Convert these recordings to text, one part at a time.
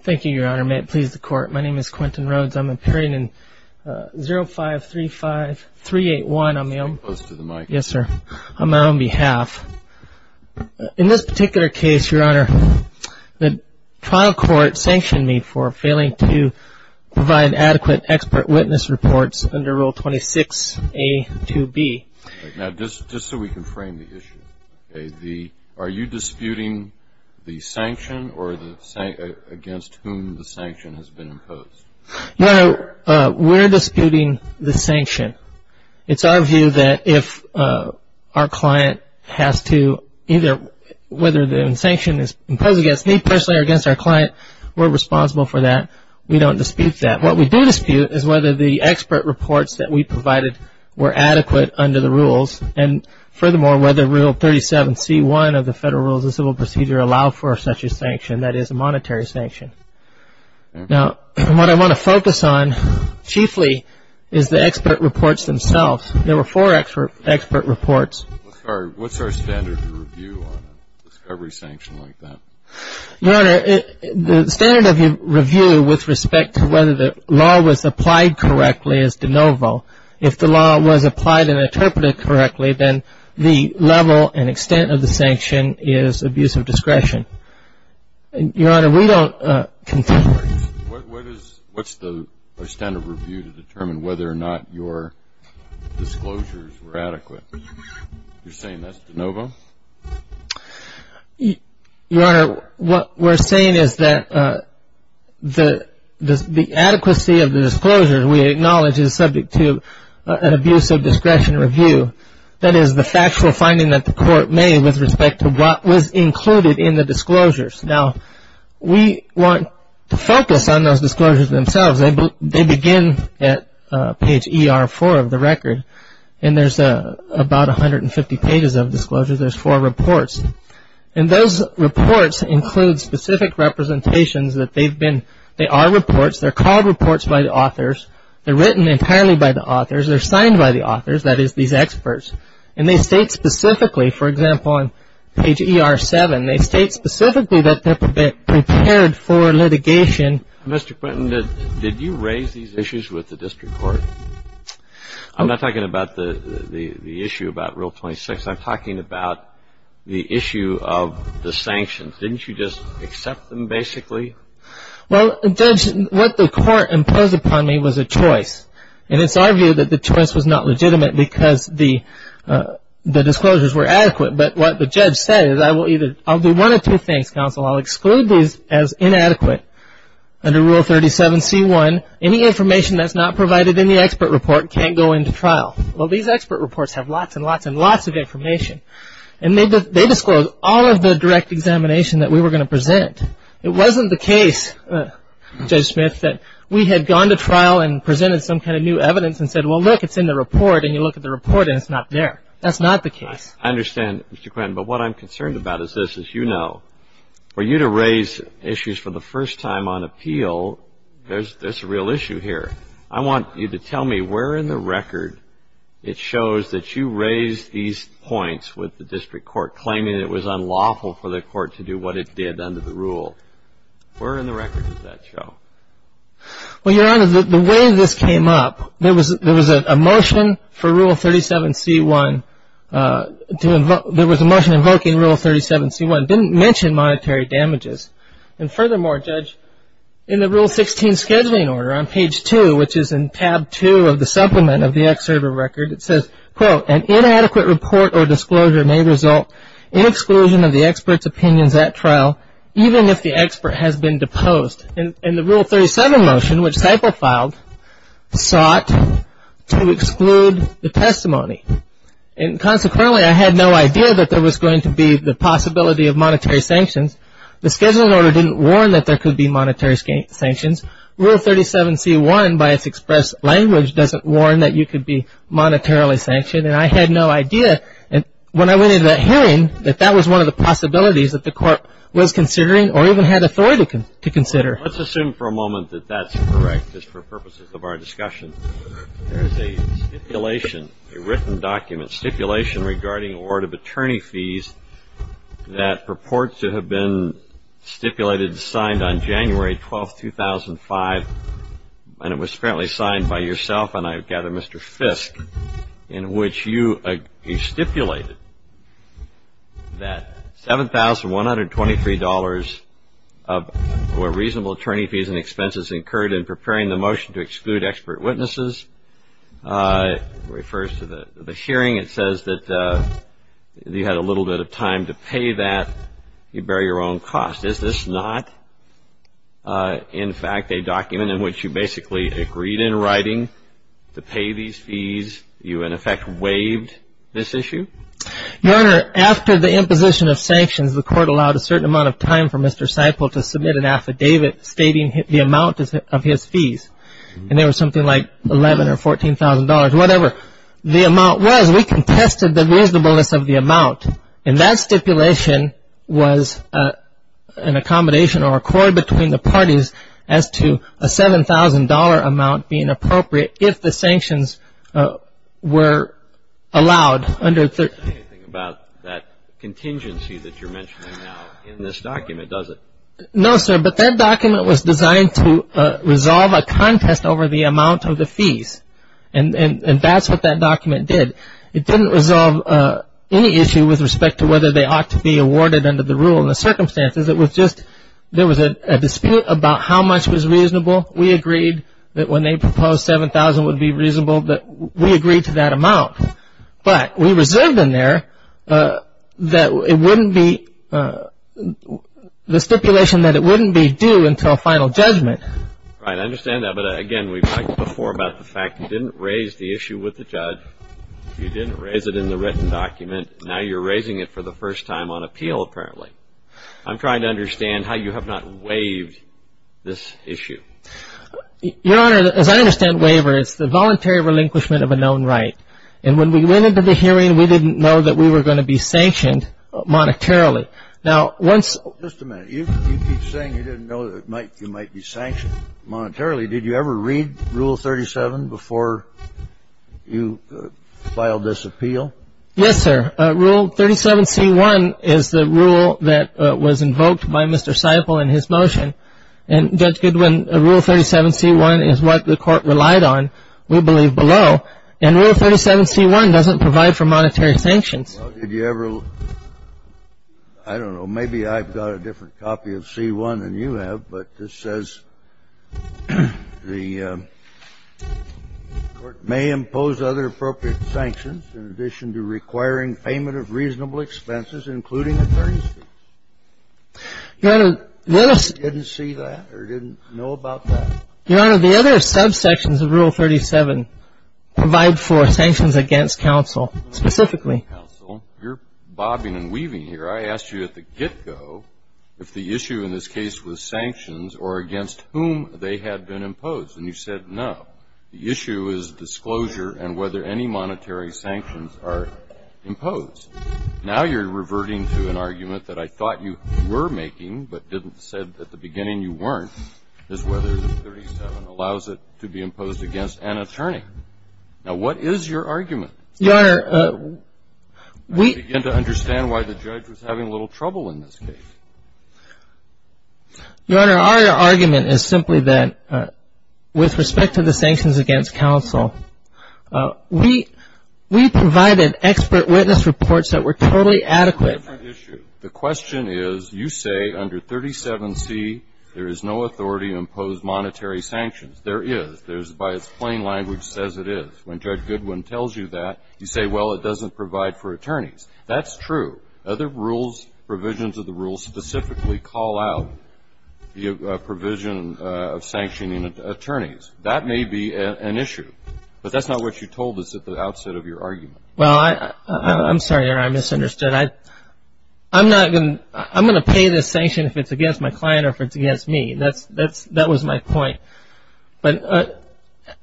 Thank you, Your Honor. May it please the Court, my name is Quentin Rhoades. I'm appearing in 05-35-381 on my own behalf. In this particular case, Your Honor, the trial court sanctioned me for failing to provide adequate expert witness reports under Rule 26a-2b. Now, just so we can frame the issue, are you disputing the sanction or against whom the sanction has been imposed? Your Honor, we're disputing the sanction. It's our view that if our client has to either whether the sanction is imposed against me personally or against our client, we're responsible for that. We don't dispute that. What we do dispute is whether the expert reports that we provided were adequate under the rules. And furthermore, whether Rule 37c-1 of the Federal Rules of Civil Procedure allow for such a sanction, that is a monetary sanction. Now, what I want to focus on chiefly is the expert reports themselves. There were four expert reports. What's our standard of review on a discovery sanction like that? Your Honor, the standard of review with respect to whether the law was applied correctly is de novo. If the law was applied and interpreted correctly, then the level and extent of the sanction is abuse of discretion. Your Honor, we don't contend with that. What's the standard of review to determine whether or not your disclosures were adequate? You're saying that's de novo? Your Honor, what we're saying is that the adequacy of the disclosures we acknowledge is subject to an abuse of discretion review. That is the factual finding that the court made with respect to what was included in the disclosures. Now, we want to focus on those disclosures themselves. They begin at page ER-4 of the record, and there's about 150 pages of disclosures. There's four reports, and those reports include specific representations that they've been – they are reports. They're called reports by the authors. They're written entirely by the authors. They're signed by the authors, that is, these experts, and they state specifically, for example, on page ER-7, they state specifically that they're prepared for litigation. Mr. Quinton, did you raise these issues with the district court? I'm not talking about the issue about Rule 26. I'm talking about the issue of the sanctions. Didn't you just accept them basically? Well, Judge, what the court imposed upon me was a choice, and it's argued that the choice was not legitimate because the disclosures were adequate. But what the judge said is I will either – I'll do one of two things, Counsel. I'll exclude these as inadequate under Rule 37C1. Any information that's not provided in the expert report can't go into trial. Well, these expert reports have lots and lots and lots of information, and they disclose all of the direct examination that we were going to present. It wasn't the case, Judge Smith, that we had gone to trial and presented some kind of new evidence and said, well, look, it's in the report, and you look at the report, and it's not there. That's not the case. I understand, Mr. Quinton, but what I'm concerned about is this. As you know, for you to raise issues for the first time on appeal, there's a real issue here. I want you to tell me where in the record it shows that you raised these points with the district court, claiming it was unlawful for the court to do what it did under the rule. Where in the record does that show? Well, Your Honor, the way this came up, there was a motion for Rule 37C1 to – there was a motion invoking Rule 37C1. It didn't mention monetary damages. And furthermore, Judge, in the Rule 16 scheduling order on page 2, which is in tab 2 of the supplement of the excerpt of the record, it says, quote, an inadequate report or disclosure may result in exclusion of the expert's opinions at trial, even if the expert has been deposed. And the Rule 37 motion, which Seiple filed, sought to exclude the testimony. And consequently, I had no idea that there was going to be the possibility of monetary sanctions. The scheduling order didn't warn that there could be monetary sanctions. Rule 37C1, by its express language, doesn't warn that you could be monetarily sanctioned, and I had no idea when I went into that hearing that that was one of the possibilities that the court was considering or even had authority to consider. Let's assume for a moment that that's correct, just for purposes of our discussion. There is a stipulation, a written document, stipulation regarding award of attorney fees that purports to have been stipulated and signed on January 12, 2005, and it was apparently signed by yourself and, I gather, Mr. Fiske, in which you stipulated that $7,123 of reasonable attorney fees and expenses incurred in preparing the motion to exclude expert witnesses. It refers to the hearing. It says that you had a little bit of time to pay that. You bear your own cost. Is this not, in fact, a document in which you basically agreed in writing to pay these fees? You, in effect, waived this issue? Your Honor, after the imposition of sanctions, the court allowed a certain amount of time for Mr. Seiple to submit an affidavit stating the amount of his fees, and there was something like $11,000 or $14,000, whatever the amount was. We contested the reasonableness of the amount, and that stipulation was an accommodation or accord between the parties as to a $7,000 amount being appropriate if the sanctions were allowed under the- It doesn't say anything about that contingency that you're mentioning now in this document, does it? No, sir, but that document was designed to resolve a contest over the amount of the fees, and that's what that document did. It didn't resolve any issue with respect to whether they ought to be awarded under the rule. In the circumstances, it was just there was a dispute about how much was reasonable. We agreed that when they proposed $7,000 would be reasonable, that we agreed to that amount, but we reserved in there that it wouldn't be-the stipulation that it wouldn't be due until final judgment. Right, I understand that, but again, we've talked before about the fact you didn't raise the issue with the judge. You didn't raise it in the written document. Now you're raising it for the first time on appeal, apparently. I'm trying to understand how you have not waived this issue. Your Honor, as I understand waivers, it's the voluntary relinquishment of a known right, and when we went into the hearing, we didn't know that we were going to be sanctioned monetarily. Now, once- Just a minute. You keep saying you didn't know you might be sanctioned monetarily. Did you ever read Rule 37 before you filed this appeal? Yes, sir. Rule 37C1 is the rule that was invoked by Mr. Seiple in his motion, and Judge Goodwin, Rule 37C1 is what the court relied on, we believe, below, and Rule 37C1 doesn't provide for monetary sanctions. Did you ever-I don't know, maybe I've got a different copy of C1 than you have, but this says the court may impose other appropriate sanctions in addition to requiring payment of reasonable expenses, including attorney's fees. Your Honor, the other- You didn't see that or didn't know about that? Your Honor, the other subsections of Rule 37 provide for sanctions against counsel, specifically. Counsel, you're bobbing and weaving here. I asked you at the get-go if the issue in this case was sanctions or against whom they had been imposed, and you said no. The issue is disclosure and whether any monetary sanctions are imposed. Now you're reverting to an argument that I thought you were making but didn't say at the beginning you weren't, is whether Rule 37 allows it to be imposed against an attorney. Now, what is your argument? Your Honor, we- I'm trying to understand why the judge was having a little trouble in this case. Your Honor, our argument is simply that with respect to the sanctions against counsel, we provided expert witness reports that were totally adequate. That's a different issue. The question is you say under 37C there is no authority to impose monetary sanctions. There is. There's-by its plain language says it is. When Judge Goodwin tells you that, you say, well, it doesn't provide for attorneys. That's true. Other rules, provisions of the rules, specifically call out the provision of sanctioning attorneys. That may be an issue, but that's not what you told us at the outset of your argument. Well, I'm sorry, Your Honor. I misunderstood. I'm not going to-I'm going to pay this sanction if it's against my client or if it's against me. That was my point. But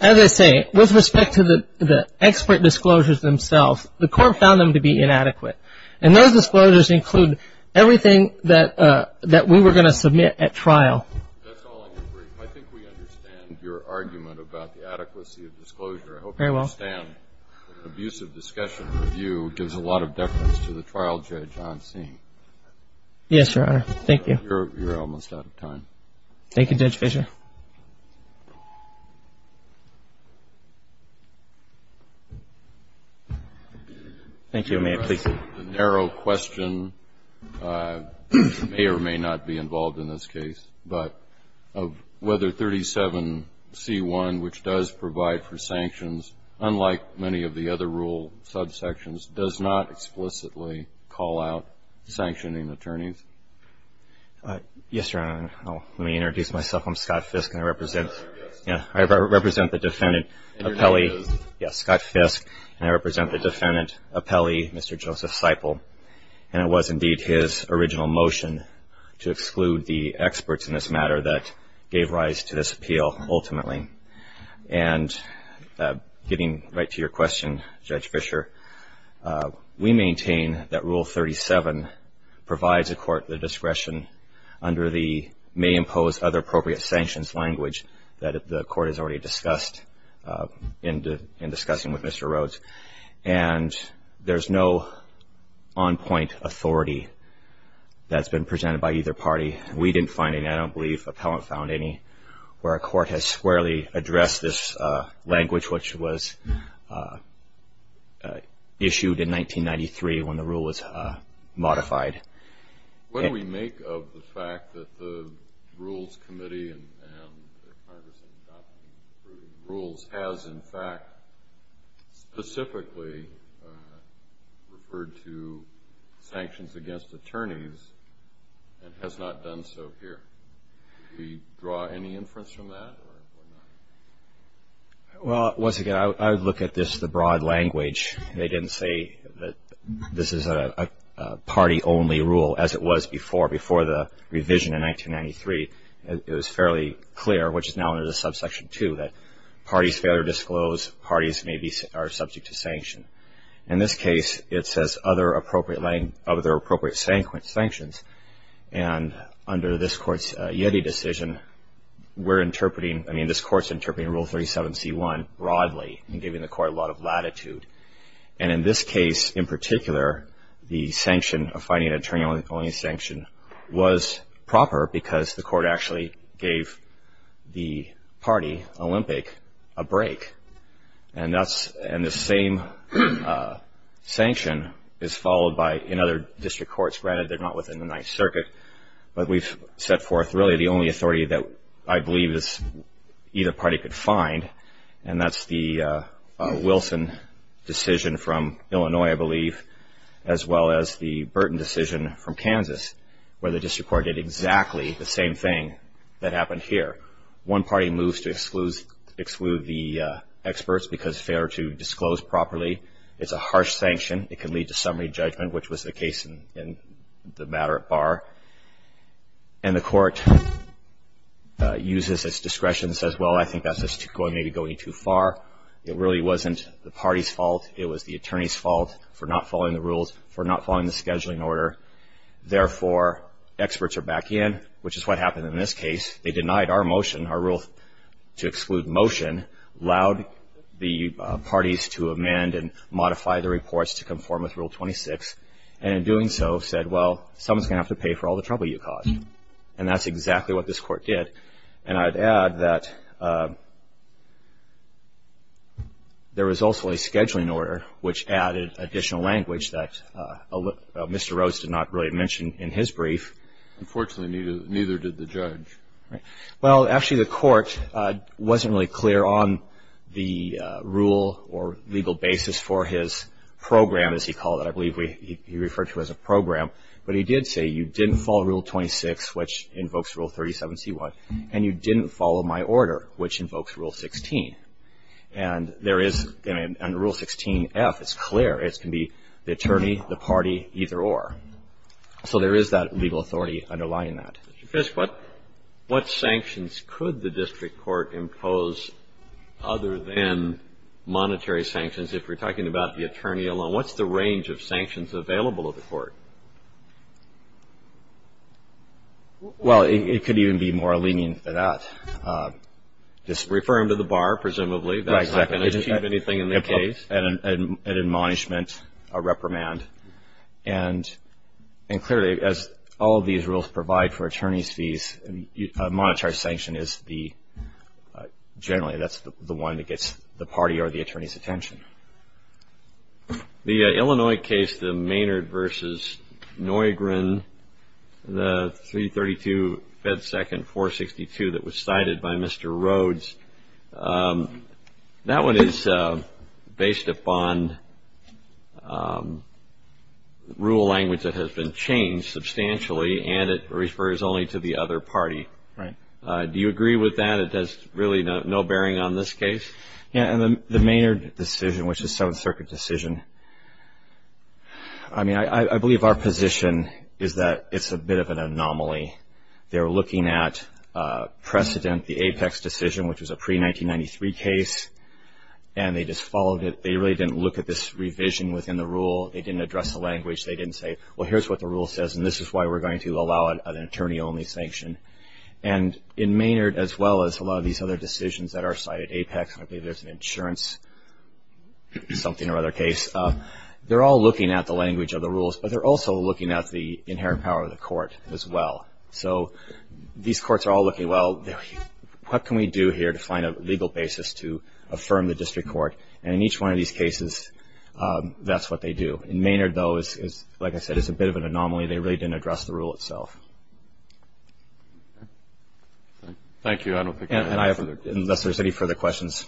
as I say, with respect to the expert disclosures themselves, the court found them to be inadequate, and those disclosures include everything that we were going to submit at trial. That's all I can bring. I think we understand your argument about the adequacy of disclosure. I hope you understand that an abusive discussion review gives a lot of deference to the trial judge on scene. Yes, Your Honor. Thank you. You're almost out of time. Thank you, Judge Fischer. Thank you, Your Honor. The narrow question may or may not be involved in this case, but of whether 37C1, which does provide for sanctions, unlike many of the other rule subsections, does not explicitly call out sanctioning attorneys. Yes, Your Honor. Let me introduce myself. I'm Scott Fiske, and I represent- Yes. Yeah. I represent the defendant, Apelli- Yes. Scott Fiske, and I represent the defendant, Apelli, Mr. Joseph Seiple. And it was indeed his original motion to exclude the experts in this matter that gave rise to this appeal, ultimately. And getting right to your question, Judge Fischer, we maintain that Rule 37 provides a court the discretion under the may impose other appropriate sanctions language that the court has already discussed in discussing with Mr. Rhodes. And there's no on-point authority that's been presented by either party. We didn't find any. I don't believe appellant found any. Where a court has squarely addressed this language, which was issued in 1993 when the rule was modified. What do we make of the fact that the Rules Committee and their partners in adopting the rules has, in fact, specifically referred to sanctions against attorneys and has not done so here? Do we draw any inference from that or not? Well, once again, I would look at this, the broad language. They didn't say that this is a party-only rule as it was before. Before the revision in 1993, it was fairly clear, which is now under the subsection 2, that parties fail to disclose, parties are subject to sanction. In this case, it says other appropriate sanctions. And under this court's YETI decision, we're interpreting, I mean, this court's interpreting Rule 37c1 broadly and giving the court a lot of latitude. And in this case, in particular, the sanction of finding an attorney-only sanction was proper because the court actually gave the party, Olympic, a break. And the same sanction is followed in other district courts. Granted, they're not within the Ninth Circuit, but we've set forth really the only authority that I believe either party could find, and that's the Wilson decision from Illinois, I believe, as well as the Burton decision from Kansas, where the district court did exactly the same thing that happened here. One party moves to exclude the experts because they failed to disclose properly. It's a harsh sanction. It could lead to summary judgment, which was the case in the matter at Barr. And the court uses its discretion and says, well, I think that's maybe going too far. It really wasn't the party's fault. It was the attorney's fault for not following the rules, for not following the scheduling order. Therefore, experts are back in, which is what happened in this case. They denied our motion, our rule to exclude motion, allowed the parties to amend and modify the reports to conform with Rule 26, and in doing so said, well, someone's going to have to pay for all the trouble you caused. And that's exactly what this court did. And I'd add that there was also a scheduling order, which added additional language that Mr. Rhodes did not really mention in his brief. Unfortunately, neither did the judge. Well, actually, the court wasn't really clear on the rule or legal basis for his program, as he called it. I believe he referred to it as a program. But he did say you didn't follow Rule 26, which invokes Rule 37C1, and you didn't follow my order, which invokes Rule 16. And there is, under Rule 16F, it's clear. It can be the attorney, the party, either or. So there is that legal authority underlying that. Mr. Fiske, what sanctions could the district court impose other than monetary sanctions, if we're talking about the attorney alone? What's the range of sanctions available to the court? Well, it could even be more lenient than that. Just refer him to the bar, presumably. That's not going to achieve anything in the case. An admonishment, a reprimand. And clearly, as all of these rules provide for attorney's fees, a monetary sanction is generally the one that gets the party or the attorney's attention. The Illinois case, the Maynard v. Neugren, the 332 Fed Second 462 that was cited by Mr. Rhodes, that one is based upon rule language that has been changed substantially, and it refers only to the other party. Do you agree with that? It has really no bearing on this case? Yeah, and the Maynard decision, which is a Seventh Circuit decision, I mean, I believe our position is that it's a bit of an anomaly. They were looking at precedent, the Apex decision, which was a pre-1993 case, and they just followed it. They really didn't look at this revision within the rule. They didn't address the language. They didn't say, well, here's what the rule says, and this is why we're going to allow an attorney-only sanction. In Maynard, as well as a lot of these other decisions that are cited, Apex, I believe there's an insurance something or other case, they're all looking at the language of the rules, but they're also looking at the inherent power of the court as well. So these courts are all looking, well, what can we do here to find a legal basis to affirm the district court? And in each one of these cases, that's what they do. In Maynard, though, like I said, it's a bit of an anomaly. They really didn't address the rule itself. Thank you. Unless there's any further questions.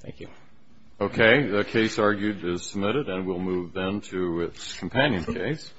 Thank you. Okay. The case argued is submitted, and we'll move then to its companion case.